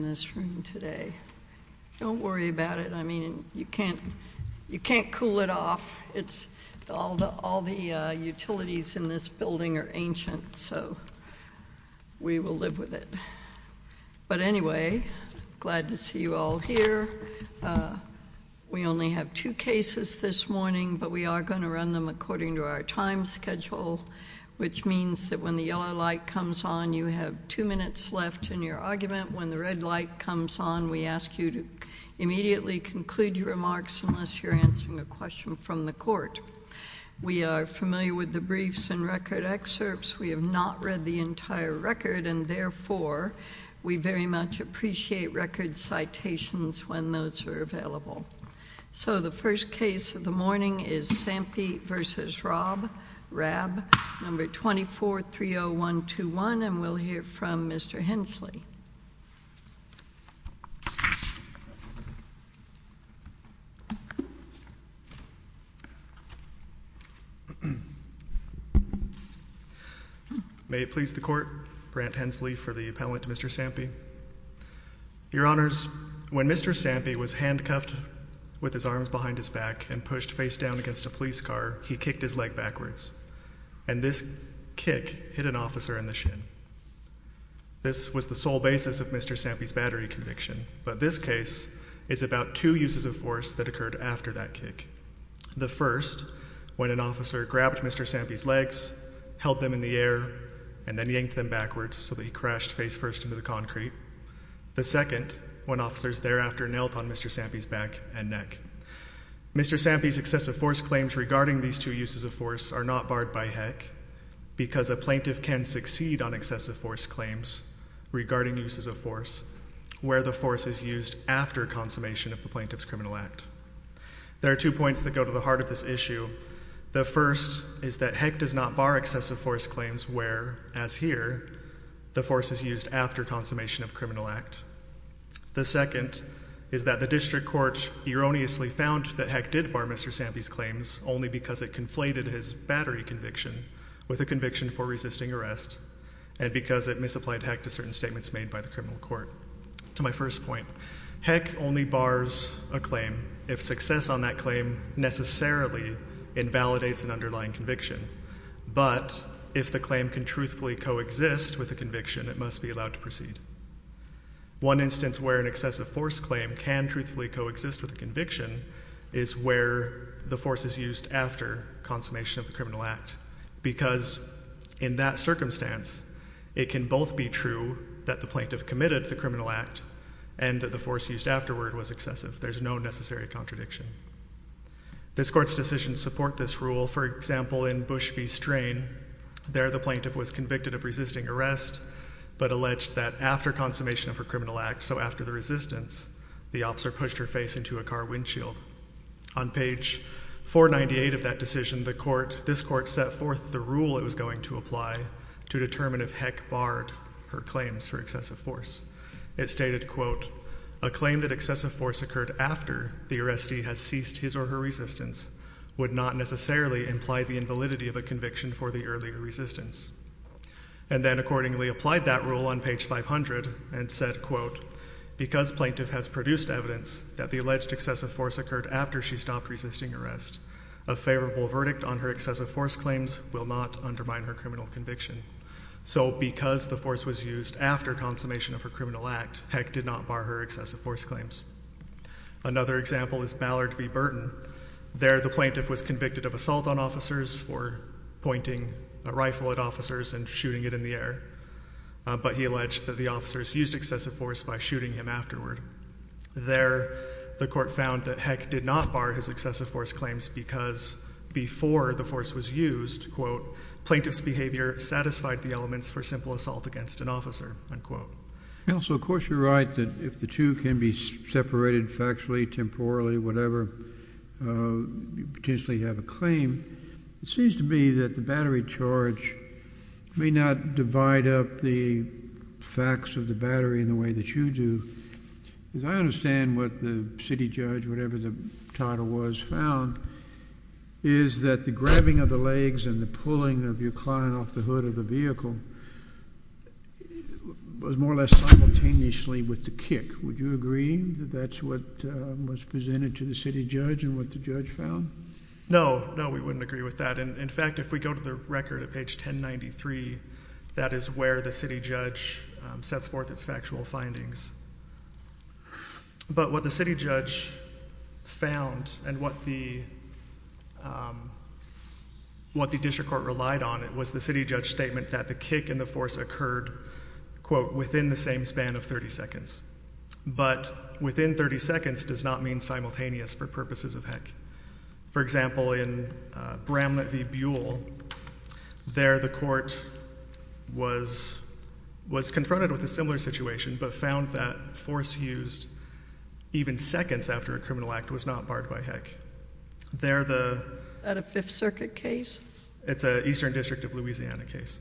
in this room today. Don't worry about it. I mean, you can't cool it off. All the utilities in this building are ancient, so we will live with it. But anyway, glad to see you all here. We only have two cases this morning, but we are going to run them according to our time schedule, which means that when the yellow light comes on, you have two minutes left in your argument. When the red light comes on, we ask you to immediately conclude your remarks unless you're answering a question from the court. We are familiar with the briefs and record excerpts. We have not read the entire record, and therefore, we very much appreciate record citations when those are available. So the first case of the morning is Sampy v. Rabb, No. 2430121, and we'll hear from Mr. Hensley. May it please the Court, Brant Hensley for the appellate to Mr. Sampy. Your Honors, when Mr. Sampy was handcuffed with his arms behind his back and pushed face down against a police car, he kicked his leg backwards, and this kick hit an officer in the shin. This was the sole basis of Mr. Sampy's battery conviction, but this case is about two uses of force that occurred after that kick. The first, when an officer grabbed Mr. Sampy's legs, held them in the air, and then yanked them backwards so that he crashed face first into the concrete. The second, when officers thereafter knelt on Mr. Sampy's back and neck. Mr. Sampy's excessive force claims regarding these two uses of force are not barred by HECC because a plaintiff can succeed on excessive force claims regarding uses of force where the force is used after consummation of the plaintiff's criminal act. There are two points that go to the heart of this issue. The first is that HECC does not bar excessive force claims where, as here, the force is used after consummation of criminal act. The second is that the district court erroneously found that HECC did bar Mr. Sampy's claims only because it conflated his battery conviction with a conviction for resisting arrest and because it misapplied HECC to certain statements made by the criminal court. To my first point, HECC only bars a claim if success on that claim necessarily invalidates an underlying conviction, but if the claim can truthfully coexist with a conviction, it must be allowed to proceed. One instance where an excessive force claim can truthfully coexist with a conviction is where the force is used after consummation of the criminal act because in that circumstance, it can both be true that the plaintiff committed the criminal act and that the force used afterward was excessive. There's no necessary contradiction. This court's decisions support this rule. For example, in Bush v. Strain, there the plaintiff was convicted of resisting arrest but alleged that after consummation of her criminal act, so after the resistance, the officer pushed her face into a car windshield. On page 498 of that decision, this court set forth the rule it was going to apply to determine if HECC barred her claims for excessive force. It stated, quote, a claim that excessive force occurred after the arrestee has ceased his or her resistance would not necessarily imply the invalidity of a conviction for the earlier resistance. And then accordingly applied that rule on page 500 and said, quote, because plaintiff has produced evidence that the alleged excessive force occurred after she stopped resisting arrest, a favorable verdict on her excessive force claims will not undermine her criminal conviction. So because the force was used after consummation of her criminal act, HECC did not bar her excessive force claims. Another example is Ballard v. Burton. There the plaintiff was convicted of assault on officers for pointing a rifle at officers and shooting it in the air. But he alleged that the officers used excessive force by shooting him afterward. There the court found that HECC did not bar his excessive force claims because before the force was used, quote, plaintiff's behavior satisfied the elements for simple assault against an officer, unquote. Also, of course, you're right that if the two can be separated factually, temporally, whatever, you potentially have a claim. It seems to me that the battery charge may not divide up the facts of the battery in the way that you do. As I understand what the city judge, whatever the title was, found is that the grabbing of the legs and the pulling of your client off the hood of the vehicle was more or less simultaneously with the kick. Would you agree that that's what was presented to the city judge and what the judge found? No, no, we wouldn't agree with that. In fact, if we go to the record at page 1093, that is where the city judge sets forth its factual findings. But what the city judge found and what the district court relied on, it was the city judge statement that the kick and the force occurred, quote, within the same span of 30 seconds. But within 30 seconds does not mean simultaneous for purposes of HECC. For example, in Bramlett v. Buell, there the court was confronted with a similar situation but found that force used even seconds after a criminal act was not barred by HECC. Is that a 5th Circuit case? It's an Eastern District of Louisiana case.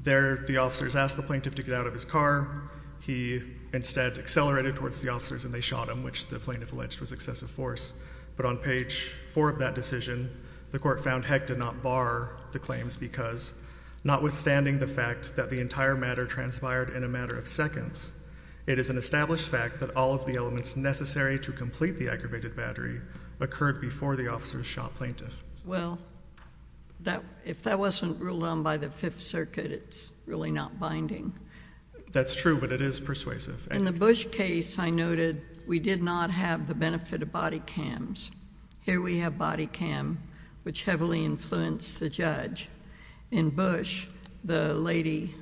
There the officers asked the plaintiff to get out of his car. He instead accelerated towards the officers and they shot him, which the plaintiff alleged was excessive force. But on page 4 of that decision, the court found HECC did not bar the claims because notwithstanding the fact that the entire matter transpired in a matter of seconds, it is an established fact that all of the elements necessary to complete the aggravated battery occurred before the officers shot plaintiff. Well, if that wasn't ruled on by the 5th Circuit, it's really not binding. That's true, but it is persuasive. In the Bush case, I noted we did not have the benefit of body cams. Here we have body cam, which heavily influenced the judge. In Bush, the lady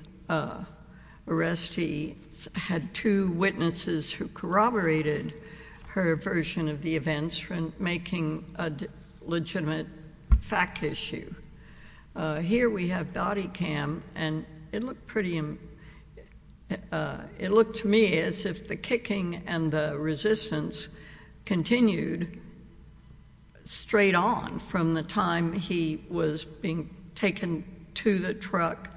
arrestee had two witnesses who corroborated her version of the events, making a legitimate fact issue. Here we have body cam, and it looked pretty—it looked to me as if the kicking and the resistance continued straight on from the time he was being taken to the truck,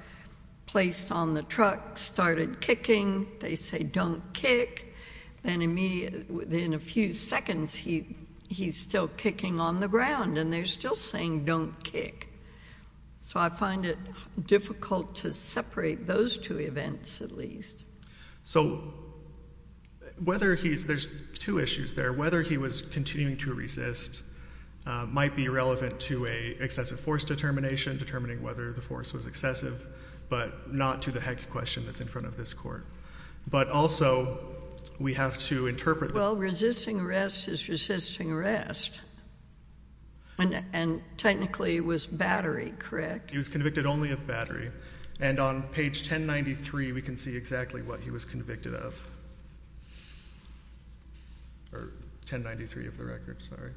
placed on the truck, started kicking. They say, don't kick. Then in a few seconds, he's still kicking on the ground and they're still saying, don't kick. So I find it difficult to separate those two events, at least. So whether he's—there's two issues there. Whether he was continuing to resist might be relevant to an excessive force determination, determining whether the force was excessive, but not to the heck question that's in front of this court. But also, we have to interpret— Well, resisting arrest is resisting arrest. And technically, it was battery, correct? He was convicted only of battery. And on page 1093, we can see exactly what he was convicted of. Or 1093 of the record, sorry.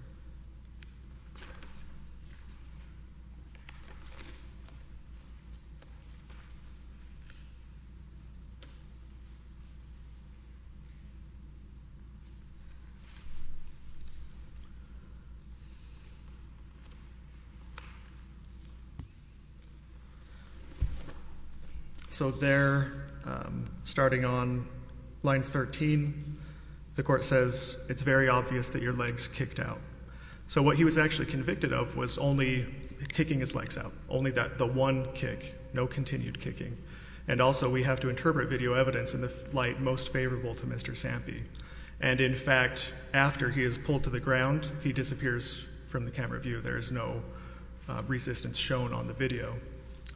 So there, starting on line 13, the court says, it's very obvious that your legs kicked out. So what he was actually convicted of was only kicking his legs out. Only that—the one kick. No continued kicking. And also, we have to interpret video evidence in the light most favorable to Mr. Sampy. And in fact, after he is pulled to the ground, he disappears from the camera view. There is no resistance shown on the video.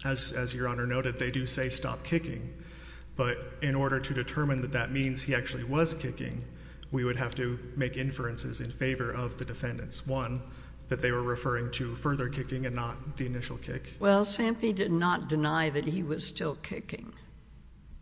As Your Honor noted, they do say, stop kicking. But in order to determine that that means he actually was kicking, we would have to make inferences in favor of the defendants. One, that they were referring to further kicking and not the initial kick. Well, Sampy did not deny that he was still kicking.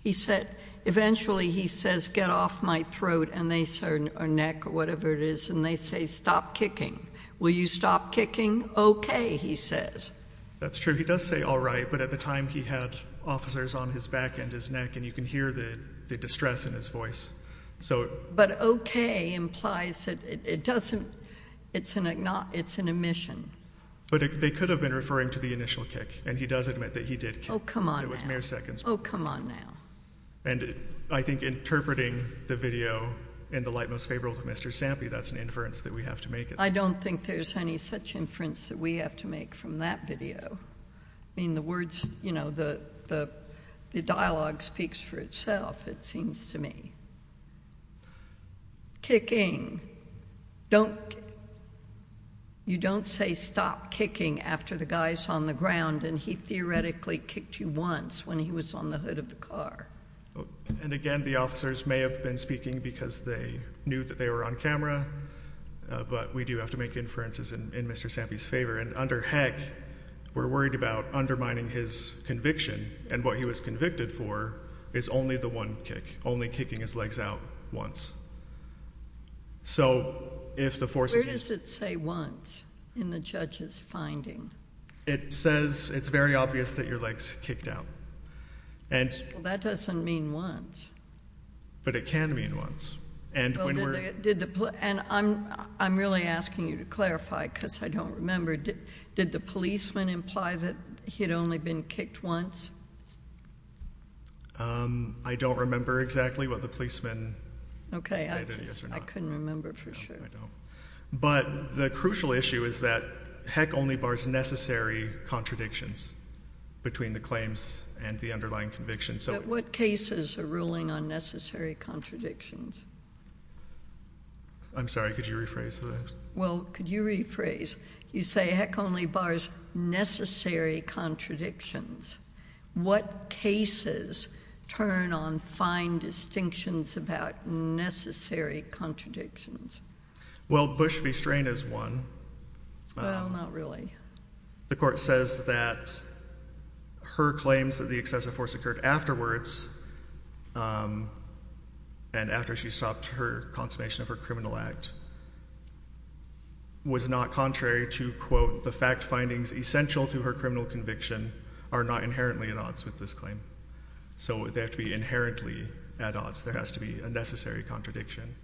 He said—eventually, he says, get off my throat, or neck, or whatever it is. And they say, stop kicking. Will you stop kicking? Okay, he says. That's true. He does say, all right. But at the time, he had officers on his back and his neck. And you can hear the distress in his voice. But okay implies that it doesn't—it's an admission. But they could have been referring to the initial kick. And he does admit that he did kick. Oh, come on now. It was mere seconds. Oh, come on now. And I think interpreting the video in the light most favorable to Mr. Sampy, that's an inference that we have to make. I don't think there's any such inference that we have to make from that video. I mean, the words, you know, the dialogue speaks for itself, it seems to me. Kicking. Don't—you don't say, stop kicking, after the guy's on the ground and he theoretically kicked you once when he was on the hood of the car. And again, the officers may have been speaking because they knew that they were on camera. But we do have to make inferences in Mr. Sampy's favor. And under Heck, we're worried about undermining his conviction. And what he was convicted for is only the one kick, only kicking his legs out once. So if the force is— Where does it say once in the judge's finding? It says, it's very obvious that your legs kicked out. And that doesn't mean once. But it can mean once. And I'm really asking you to clarify, because I don't remember. Did the policeman imply that he had only been kicked once? I don't remember exactly what the policeman said, yes or no. Okay, I couldn't remember for sure. But the crucial issue is that Heck only bars necessary contradictions between the claims and the underlying conviction. But what cases are ruling on necessary contradictions? I'm sorry, could you rephrase that? Well, could you rephrase? You say Heck only bars necessary contradictions. What cases turn on fine distinctions about necessary contradictions? Well, Bush v. Strain is one. Well, not really. The court says that her claims that the excessive force occurred afterwards, and after she stopped her consummation of her criminal act, was not contrary to, quote, the fact findings essential to her criminal conviction are not inherently at odds with this claim. So they have to be inherently at odds. There has to be a necessary contradiction.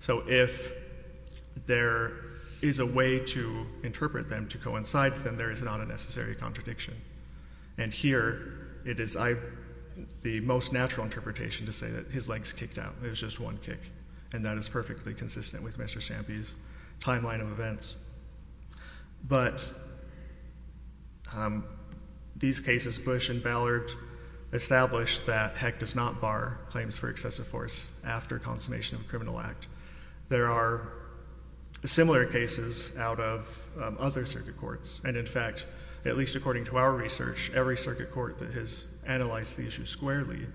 So if there is a way to interpret them, to coincide with them, there is not a necessary contradiction. And here, it is the most natural interpretation to say that his legs kicked out. It was just one kick. And that is perfectly consistent with Mr. Stampy's timeline of events. But these cases, Bush and Ballard established that Heck does not bar claims for excessive force after consummation of a criminal act. There are similar cases out of other circuit courts. And in fact, at least according to our research, every circuit court that has analyzed the issue squarely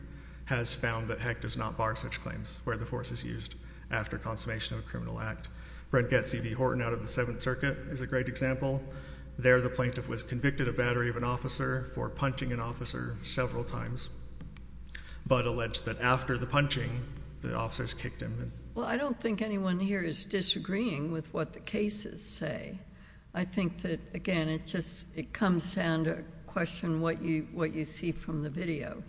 has found that Heck does not bar such claims where the force is used after consummation of a criminal act. Brent Getty v. Horton out of the Seventh Circuit is a great example. There the plaintiff was convicted of battery of an officer for punching an officer several times, but alleged that after the punching, the officers kicked him. Well, I don't think anyone here is disagreeing with what the cases say. I think that, again, it just comes down to question what you see from the video.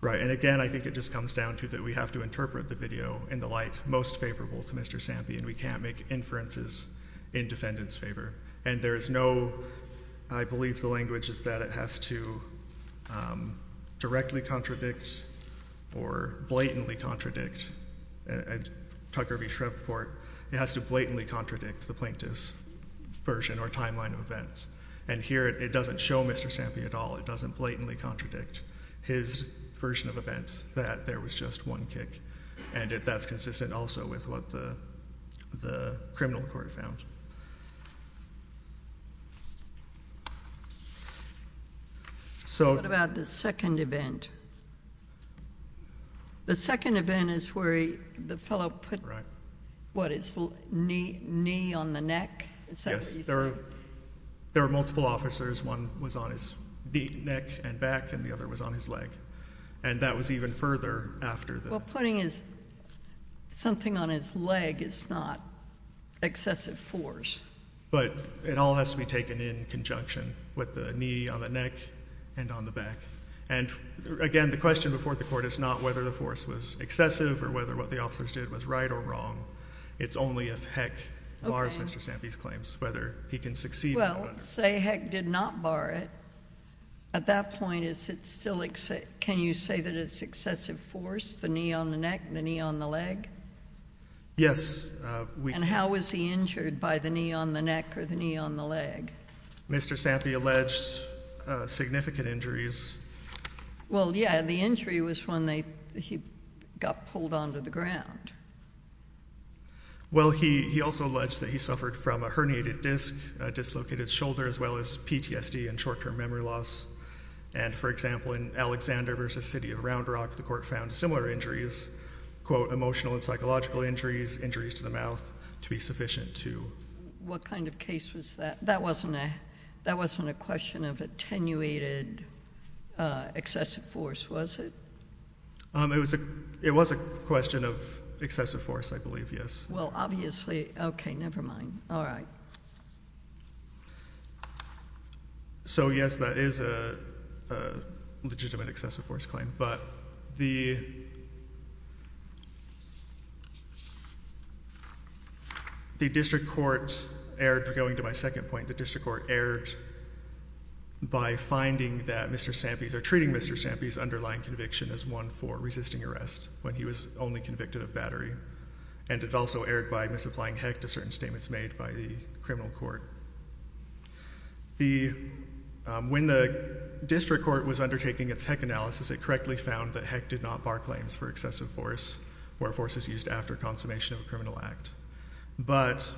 Right. And again, I think it just comes down to that we have to interpret the video in the light most favorable to Mr. Stampy, and we can't make inferences in defendant's favor. And there is no, I believe the language is that it has to directly contradict or blatantly contradict, at Tucker v. Shreveport, it has to blatantly contradict the plaintiff's version or timeline of events. And here it doesn't show Mr. Stampy at all. It doesn't blatantly contradict his version of events that there was just one kick. And that's consistent also with what the criminal court found. What about the second event? The second event is where the fellow put, what, his knee on the neck? Is that what you said? Yes. There were multiple officers. One was on his neck and back, and the other was on his leg. And that was even further after the- Well, putting his, something on his leg is not excessive force. But it all has to be taken in conjunction with the knee on the neck and on the back. And again, the question before the court is not whether the force was excessive or whether what the officers did was right or wrong. It's only if Heck bars Mr. Stampy's claims, whether he can succeed- Well, say Heck did not bar it. At that point, is it still, can you say that it's excessive force? The knee on the neck, the knee on the leg? Yes. And how was he injured by the knee on the neck or the knee on the leg? Mr. Stampy alleged significant injuries. Well, yeah, the injury was when he got pulled onto the ground. Well, he also alleged that he suffered from a herniated disc, a dislocated shoulder, as well as PTSD and short-term memory loss. And, for example, in Alexander v. City of Round Rock, the court found similar injuries, quote, emotional and psychological injuries, injuries to the mouth, to be sufficient to- What kind of case was that? That wasn't a question of attenuated excessive force, was it? It was a question of excessive force, I believe, yes. Well, obviously, okay, never mind. All right. So, yes, that is a legitimate excessive force claim. But the district court erred, going to my second point, the district court erred by finding that Mr. Stampy, or treating Mr. Stampy's underlying conviction as one for resisting arrest when he was only convicted of battery. And it also erred by misapplying heck to certain statements made by the criminal court. When the district court was undertaking its heck analysis, it correctly found that heck did not bar claims for excessive force or forces used after consummation of a criminal act. But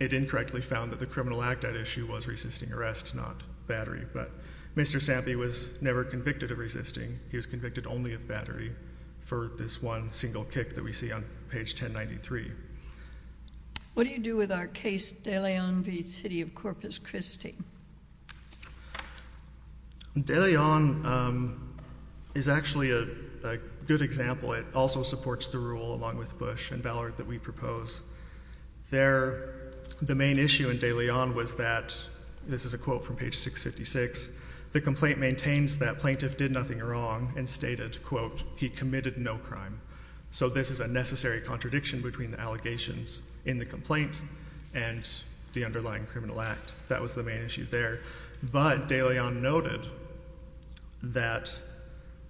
it incorrectly found that the criminal act at issue was resisting arrest, not battery. But Mr. Stampy was never convicted of resisting. He was convicted only of battery for this one single kick that we see on page 1093. What do you do with our case De Leon v. City of Corpus Christi? De Leon is actually a good example. It also supports the rule, along with Bush and Ballard, that we propose. There, the main issue in De Leon was that, this is a quote from page 656, the complaint maintains that plaintiff did nothing wrong and stated, quote, he committed no crime. So this is a necessary contradiction between the allegations in the complaint and the underlying criminal act. That was the main issue there. But De Leon noted that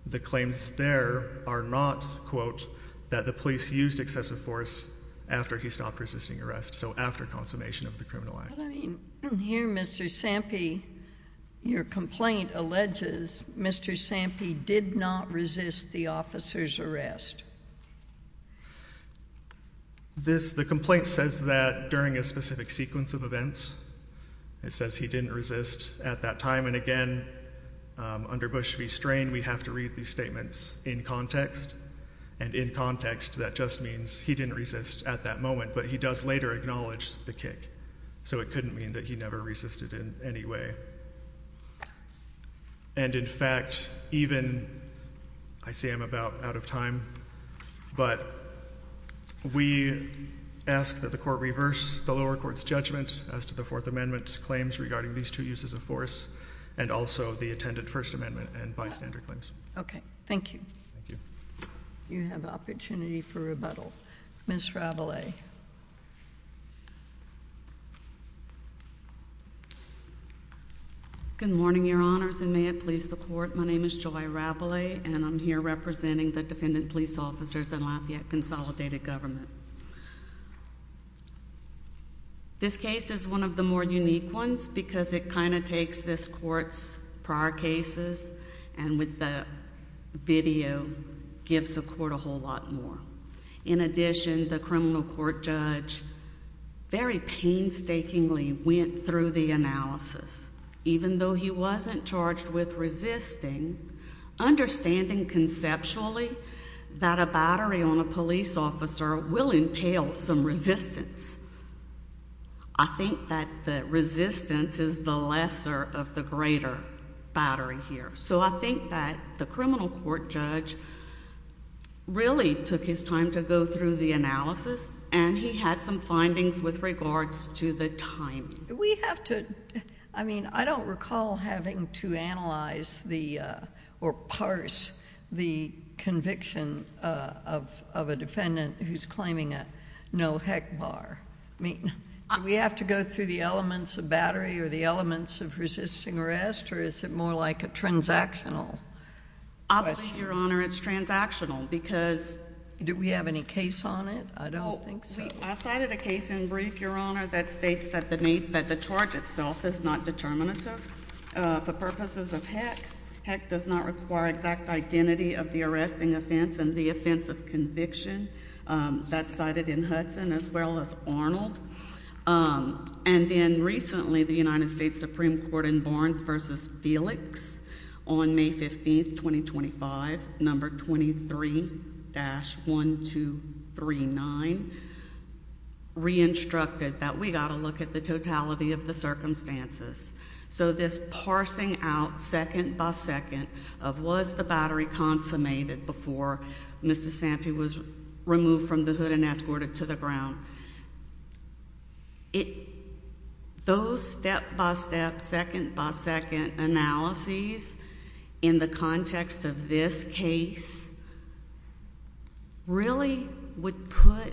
the claims there are not, quote, that the police used excessive force after he stopped resisting arrest. So after consummation of the criminal act. Here, Mr. Stampy, your complaint alleges Mr. Stampy did not resist the officer's arrest. The complaint says that during a specific sequence of events. It says he didn't resist at that time. And again, under Bush v. Strain, we have to read these statements in context. And in context, that just means he didn't resist at that moment. But he does later acknowledge the kick. So it couldn't mean that he never resisted in any way. And in fact, even, I say I'm about out of time. But, we ask that the court reverse the lower court's judgment as to the Fourth Amendment claims regarding these two uses of force. And also the attendant First Amendment and bystander claims. Okay, thank you. Thank you. You have opportunity for rebuttal. Ms. Ravelet. Good morning, your honors. And may it please the court. My name is Joy Ravelet. And I'm here representing the Defendant Police Officers and Lafayette Consolidated Government. This case is one of the more unique ones. Because it kind of takes this court's prior cases. And with the video, gives the court a whole lot more. In addition, the criminal court judge very painstakingly went through the analysis. Even though he wasn't charged with resisting, understanding conceptually that a battery on a police officer will entail some resistance. I think that the resistance is the lesser of the greater battery here. So I think that the criminal court judge really took his time to go through the analysis. And he had some findings with regards to the time. Do we have to, I mean, I don't recall having to analyze or parse the conviction of a defendant who's claiming a no-heck bar. Do we have to go through the elements of battery or the elements of resisting arrest? Or is it more like a transactional question? I believe, Your Honor, it's transactional. Because, do we have any case on it? I don't think so. I cited a case in brief, Your Honor, that states that the charge itself is not determinative for purposes of heck. Heck does not require exact identity of the arresting offense and the offense of conviction. That's cited in Hudson as well as Arnold. And then recently, the United States Supreme Court in Barnes v. Felix on May 15, 2025, number 23-1239, re-instructed that we got to look at the totality of the circumstances. So this parsing out second by second of was the battery consummated before Mr. Sampi was removed from the hood and escorted to the ground. Those step-by-step, second-by-second analyses in the context of this case really would put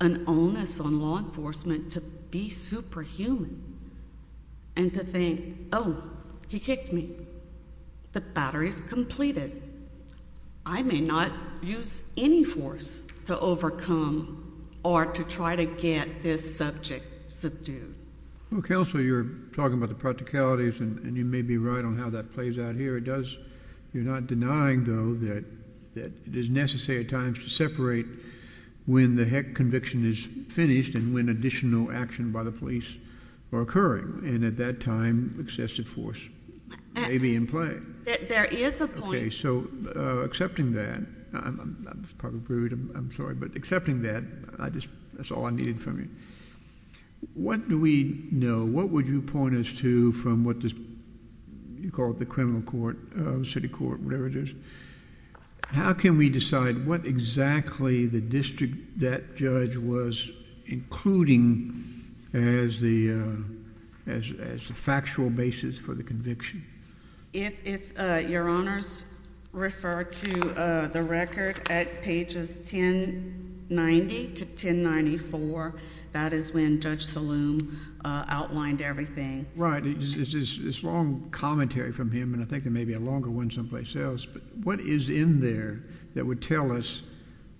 an onus on law enforcement to be superhuman and to think, oh, he kicked me. The battery's completed. I may not use any force to overcome or to try to get this subject subdued. Counsel, you're talking about the practicalities, and you may be right on how that plays out here. You're not denying, though, that it is necessary at times to separate when the heck conviction is finished and when additional action by the police are occurring. And at that time, excessive force may be in play. There is a point. Okay, so accepting that, I'm sorry, but accepting that, that's all I needed from you. What do we know? What would you point us to from what you call the criminal court, city court, whatever it is? How can we decide what exactly the district that judge was including as the factual basis for the conviction? If your honors refer to the record at pages 1090 to 1094, that is when Judge Saloom outlined everything. Right. It's long commentary from him, and I think there may be a longer one someplace else, but what is in there that would tell us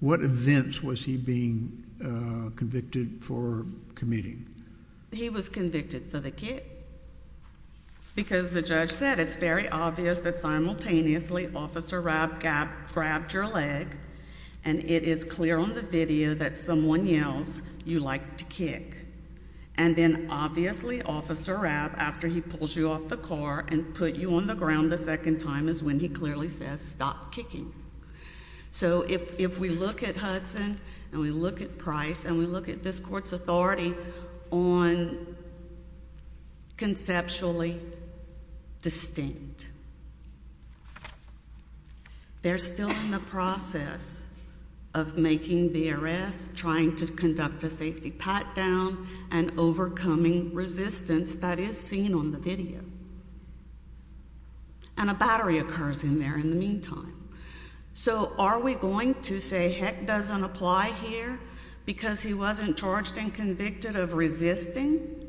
what events was he being convicted for committing? He was convicted for the kick because the judge said it's very obvious that simultaneously Officer Rabb grabbed your leg, and it is clear on the video that someone yells, you like to kick. And then obviously Officer Rabb, after he pulls you off the car and put you on the ground the second time is when he clearly says, stop kicking. So if we look at Hudson and we look at Price and we look at this court's authority, on conceptually distinct. They're still in the process of making the arrest, trying to conduct a safety pat-down, and overcoming resistance that is seen on the video. And a battery occurs in there in the meantime. So are we going to say heck doesn't apply here because he wasn't charged and convicted of resisting?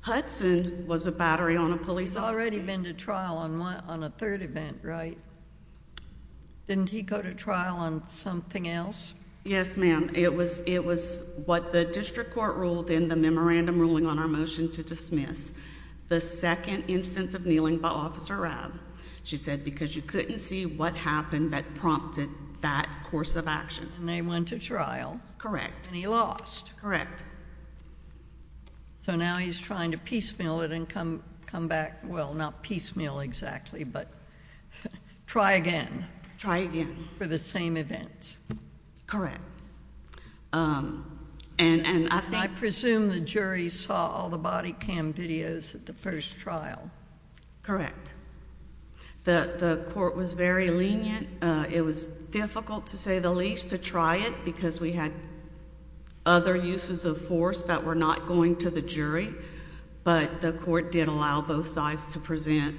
Hudson was a battery on a police officer. He's already been to trial on a third event, right? Didn't he go to trial on something else? Yes, ma'am. It was what the district court ruled in the memorandum ruling on our motion to dismiss, the second instance of kneeling by Officer Rabb. She said because you couldn't see what happened that prompted that course of action. And they went to trial. And he lost. Correct. So now he's trying to piecemeal it and come back. Well, not piecemeal exactly, but try again. Try again. For the same event. Correct. I presume the jury saw all the body cam videos at the first trial. Correct. The court was very lenient. It was difficult to say the least to try it because we had other uses of force that were not going to the jury. But the court did allow both sides to present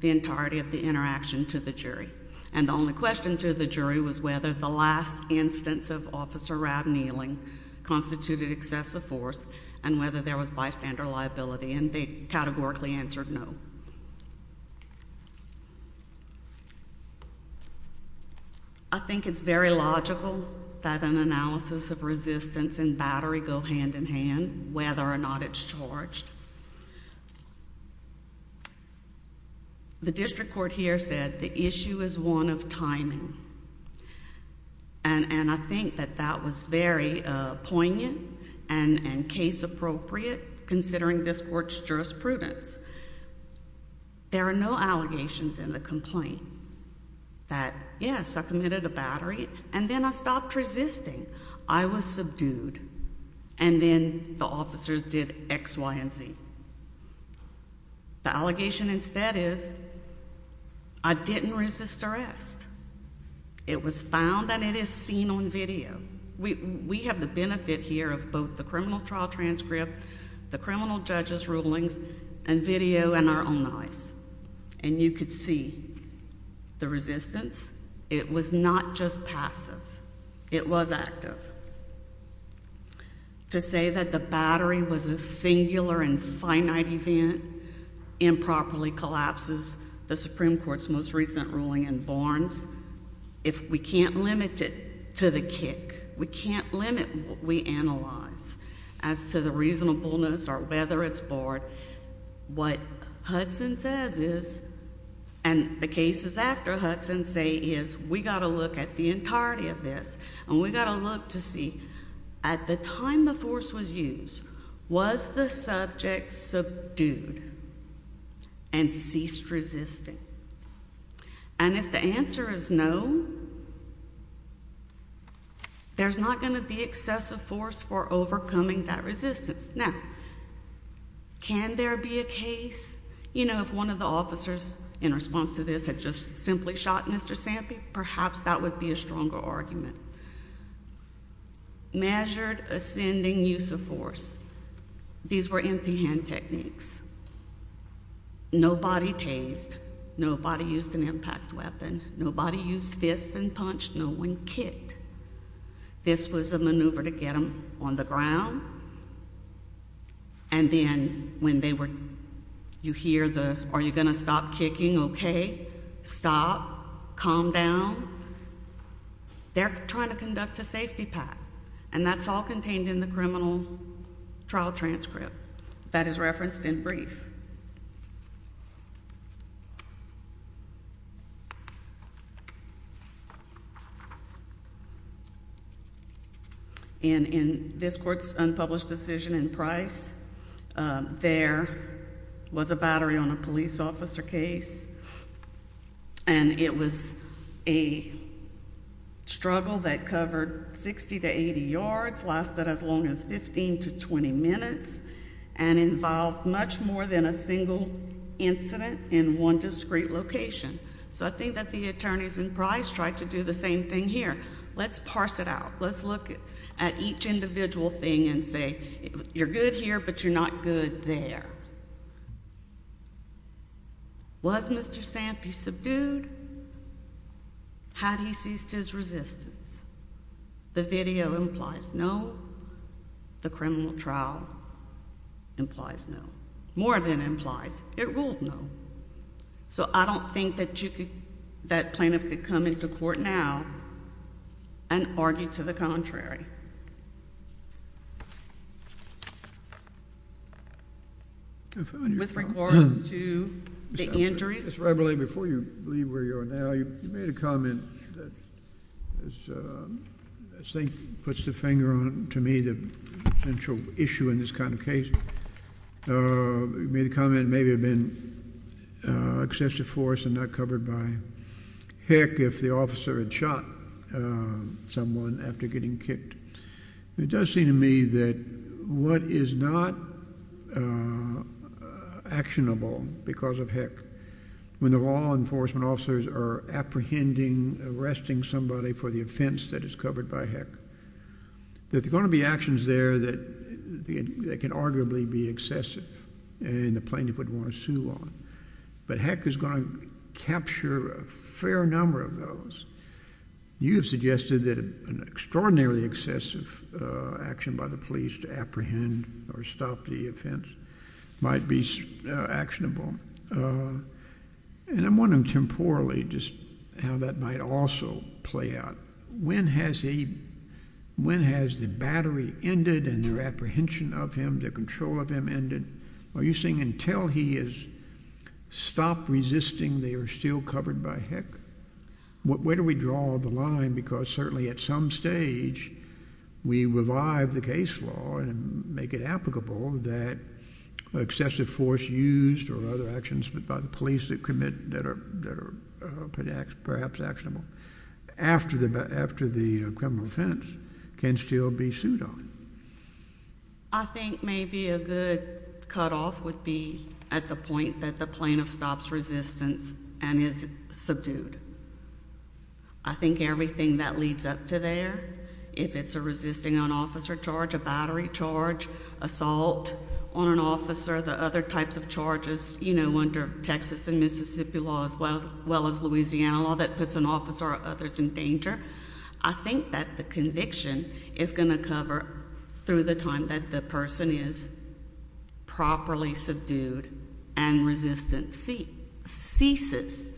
the entirety of the interaction to the jury. And the only question to the jury was whether the last instance of Officer Rabb kneeling constituted excessive force and whether there was bystander liability. And they categorically answered no. I think it's very logical that an analysis of resistance and battery go hand in hand, whether or not it's charged. The district court here said the issue is one of timing. And I think that that was very poignant and case appropriate considering this court's jurisprudence. There are no allegations in the complaint that yes, I committed a battery and then I stopped resisting. I was subdued. And then the officers did X, Y, and Z. The allegation instead is I didn't resist arrest. It was found and it is seen on video. We have the benefit here of both the criminal trial transcript, the criminal judge's rulings, and video in our own eyes. And you could see the resistance. It was not just passive. It was active. To say that the battery was a singular and finite event improperly collapses the Supreme Court's most recent ruling in Barnes. If we can't limit it to the kick, we can't limit what we analyze as to the reasonableness or whether it's barred, what Hudson says is, and the cases after Hudson say is, we got to look at the entirety of this and we got to look to see at the time the force was used, was the subject subdued and ceased resisting? And if the answer is no, there's not going to be excessive force for overcoming that resistance. Now, can there be a case, you know, if one of the officers in response to this had just simply shot Mr. Sampy, perhaps that would be a stronger argument. Measured ascending use of force. These were empty hand techniques. Nobody tased. Nobody used an impact weapon. Nobody used fists and punched. No one kicked. This was a maneuver to get him on the ground. And then when they were... You hear the, are you going to stop kicking? OK. Stop. Calm down. They're trying to conduct a safety pact. And that's all contained in the criminal trial transcript that is referenced in brief. And in this court's unpublished decision in Price, there was a battery on a police officer case and it was a struggle that covered 60 to 80 yards, lasted as long as 15 to 20 minutes, and involved much more than a single incident in one discrete location. So I think that the attorneys in Price tried to do the same thing here. Let's parse it out. Let's look at each individual thing and say, you're good here, but you're not good there. Was Mr. Sampy subdued? Had he ceased his resistance? The video implies no. The criminal trial implies no. More than implies. It ruled no. So I don't think that you could, that plaintiff could come into court now and argue to the contrary. With regards to the injuries... Ms. Reveille, before you leave where you are now, you made a comment that I think puts the finger on, to me, the central issue in this kind of case. You made a comment, maybe it had been excessive force and not covered by heck if the officer had shot someone after getting kicked. It does seem to me that what is not actionable because of heck, when the law enforcement officers are apprehending, arresting somebody for the offence that is covered by heck, that there are going to be actions there that can arguably be excessive and the plaintiff would want to sue on. But heck is going to capture a fair number of those. You have suggested that an extraordinarily excessive action by the police to apprehend or stop the offence might be actionable. And I'm wondering temporally just how that might also play out. When has the battery ended and their apprehension of him, their control of him ended? Are you saying until he has stopped resisting, they are still covered by heck? Where do we draw the line? Because certainly at some stage, we revive the case law and make it applicable that excessive force used or other actions by the police that commit that are perhaps actionable after the criminal offence can still be sued on. I think maybe a good cut-off would be at the point that the plaintiff stops resistance and is subdued. I think everything that leads up to there, if it's a resisting on officer charge, a battery charge, assault on an officer, the other types of charges, you know, under Texas and Mississippi law as well as Louisiana law that puts an officer or others in danger, I think that the conviction is going to cover through the time that the person is properly subdued and resistance ceases.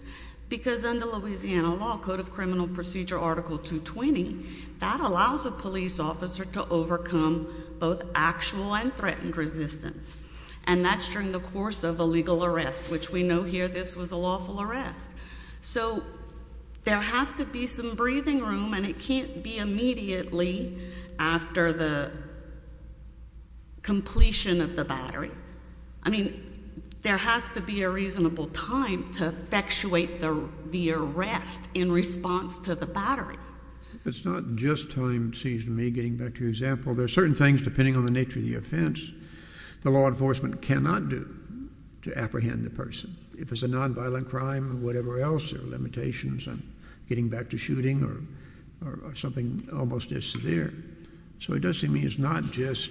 Because under Louisiana law, Code of Criminal Procedure Article 220, that allows a police officer to overcome both actual and threatened resistance. And that's during the course of a legal arrest, which we know here this was a lawful arrest. So there has to be some breathing room and it can't be immediately after the completion of the battery. I mean, there has to be a reasonable time to effectuate the arrest in response to the battery. It's not just time, it seems to me, getting back to your example. There are certain things, depending on the nature of the offense, the law enforcement cannot do to apprehend the person. If it's a nonviolent crime or whatever else, there are limitations on getting back to shooting or something almost as severe. So it does seem to me it's not just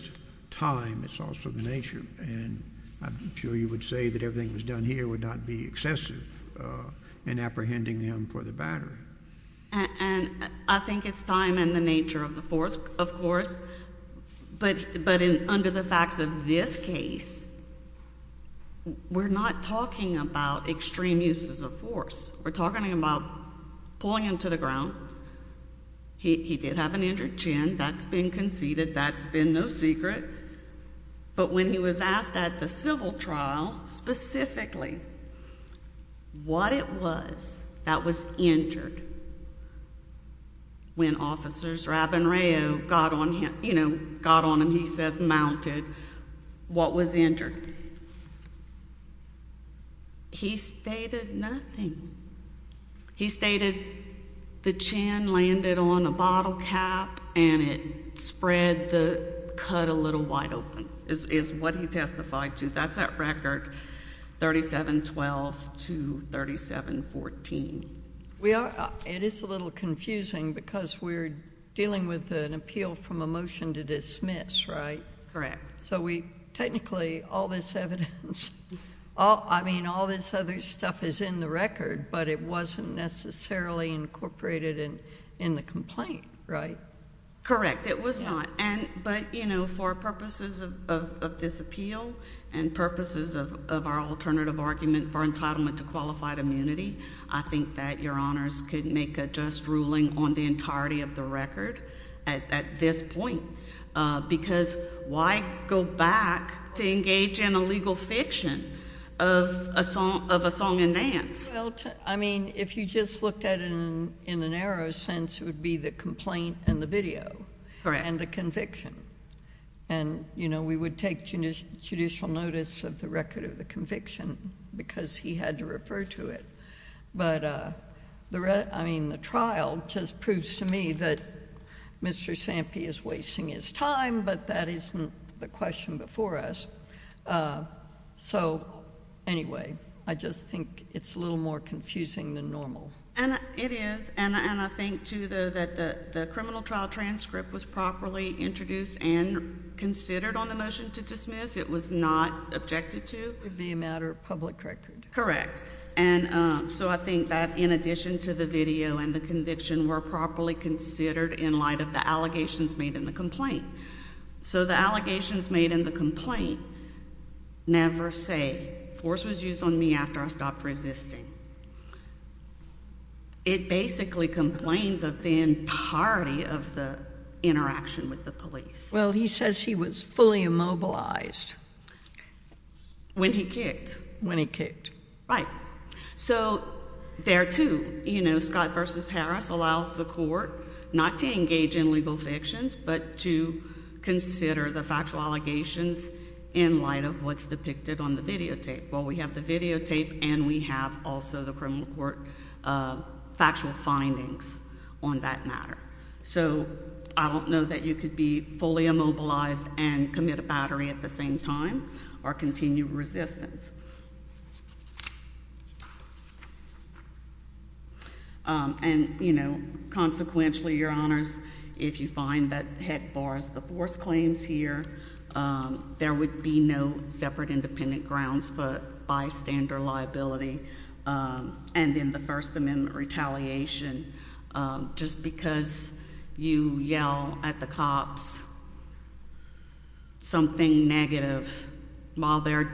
time, it's also the nature. And I'm sure you would say that everything that was done here would not be excessive in apprehending them for the battery. And I think it's time and the nature of the force, of course. But under the facts of this case, we're not talking about extreme uses of force. We're talking about pulling him to the ground. He did have an injured chin, that's been conceded, that's been no secret. But when he was asked at the civil trial specifically what it was that was injured when Officers Rabin-Rao got on him, you know, got on him, he says mounted, what was injured? He stated nothing. He stated the chin landed on a bottle cap and it spread the cut a little wide open, is what he testified to. That's at record 3712 to 3714. It is a little confusing because we're dealing with an appeal from a motion to dismiss, right? Correct. So we technically, all this evidence, I mean, all this other stuff is in the record, but it wasn't necessarily incorporated in the complaint, right? Correct, it was not. But, you know, for purposes of this appeal and purposes of our alternative argument for entitlement to qualified immunity, I think that Your Honors could make a just ruling on the entirety of the record at this point because why go back to engage in a legal fiction of a song and dance? I mean, if you just looked at it in a narrow sense, it would be the complaint and the video. Correct. And the conviction. And, you know, we would take judicial notice of the record of the conviction because he had to refer to it. But, I mean, the trial just proves to me that Mr. Sampi is wasting his time, but that isn't the question before us. So, anyway, I just think it's a little more confusing than normal. And it is, and I think, too, that the criminal trial transcript was properly introduced and considered on the motion to dismiss. It was not objected to. It would be a matter of public record. Correct. And so I think that in addition to the video and the conviction were properly considered in light of the allegations made in the complaint. So the allegations made in the complaint never say force was used on me after I stopped resisting. It basically complains of the entirety of the interaction with the police. Well, he says he was fully immobilized. When he kicked. When he kicked. Right. So there, too, you know, Scott v. Harris allows the court not to engage in legal fictions but to consider the factual allegations in light of what's depicted on the videotape. Well, we have the videotape and we have also the criminal court factual findings on that matter. So I don't know that you could be fully immobilized and commit a battery at the same time or continue resistance. And, you know, consequentially, Your Honors, if you find that the head bars the force claims here, there would be no separate independent grounds for bystander liability and then the First Amendment retaliation. Just because you yell at the cops something negative while they're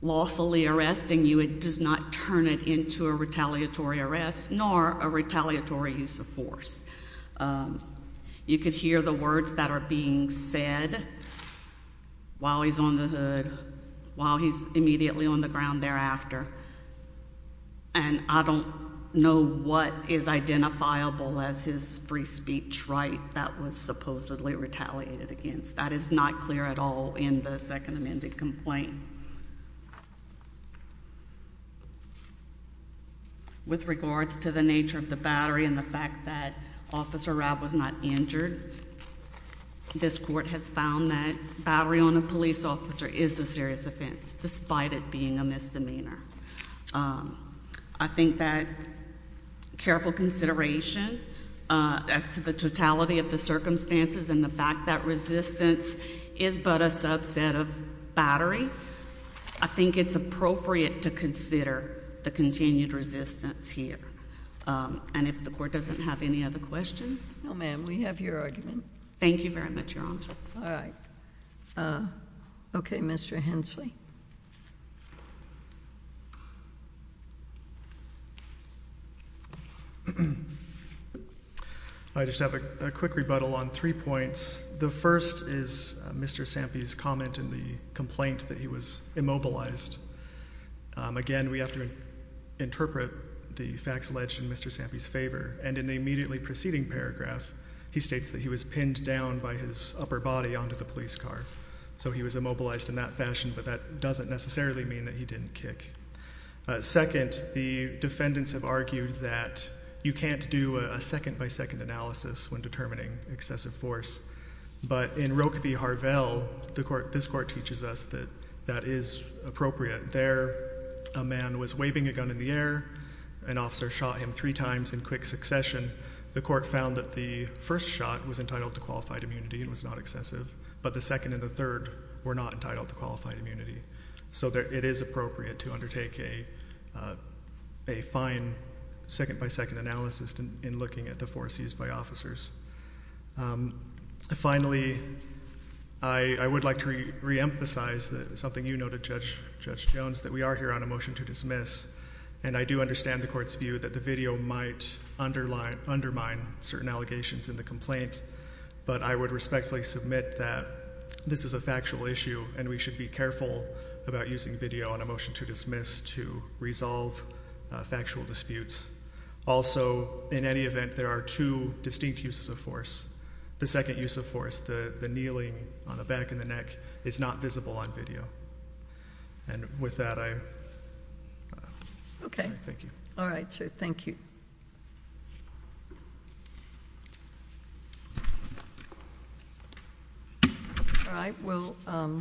lawfully arresting you, it does not turn it into a retaliatory arrest nor a retaliatory use of force. You could hear the words that are being said while he's on the hood, while he's immediately on the ground thereafter. And I don't know what is identifiable as his free speech right that was supposedly retaliated against. That is not clear at all in the Second Amendment complaint. With regards to the nature of the battery and the fact that Officer Rob was not injured, this Court has found that battery on a police officer is a serious offense, despite it being a misdemeanor. I think that careful consideration as to the totality of the circumstances and the fact that resistance is but a subset of battery, I think it's appropriate to consider the continued resistance here. And if the Court doesn't have any other questions... No, ma'am, we have your argument. Thank you very much, Your Honor. All right. Okay, Mr. Hensley. I just have a quick rebuttal on three points. The first is Mr. Sampy's comment in the complaint that he was immobilized. Again, we have to interpret the facts alleged in Mr. Sampy's favor. And in the immediately preceding paragraph, he states that he was pinned down by his upper body onto the police car. So he was immobilized in that fashion, but that doesn't necessarily mean that he didn't kick. Second, the defendants have argued that you can't do a second-by-second analysis when determining excessive force. But in Roque v. Harvell, this Court teaches us that that is appropriate. There, a man was waving a gun in the air, an officer shot him three times in quick succession. The Court found that the first shot was entitled to qualified immunity and was not excessive, but the second and the third were not entitled to qualified immunity. So it is appropriate to undertake a fine second-by-second analysis in looking at the force used by officers. Finally, I would like to reemphasize something you noted, Judge Jones, that we are here on a motion to dismiss, and I do understand the Court's view that the video might undermine certain allegations in the complaint, but I would respectfully submit that this is a factual issue and we should be careful about using video on a motion to dismiss to resolve factual disputes. Also, in any event, there are two distinct uses of force. The second use of force, the kneeling on the back and the neck, is not visible on video. And with that, I... Okay. Thank you. All right, sir, thank you. All right, we'll call...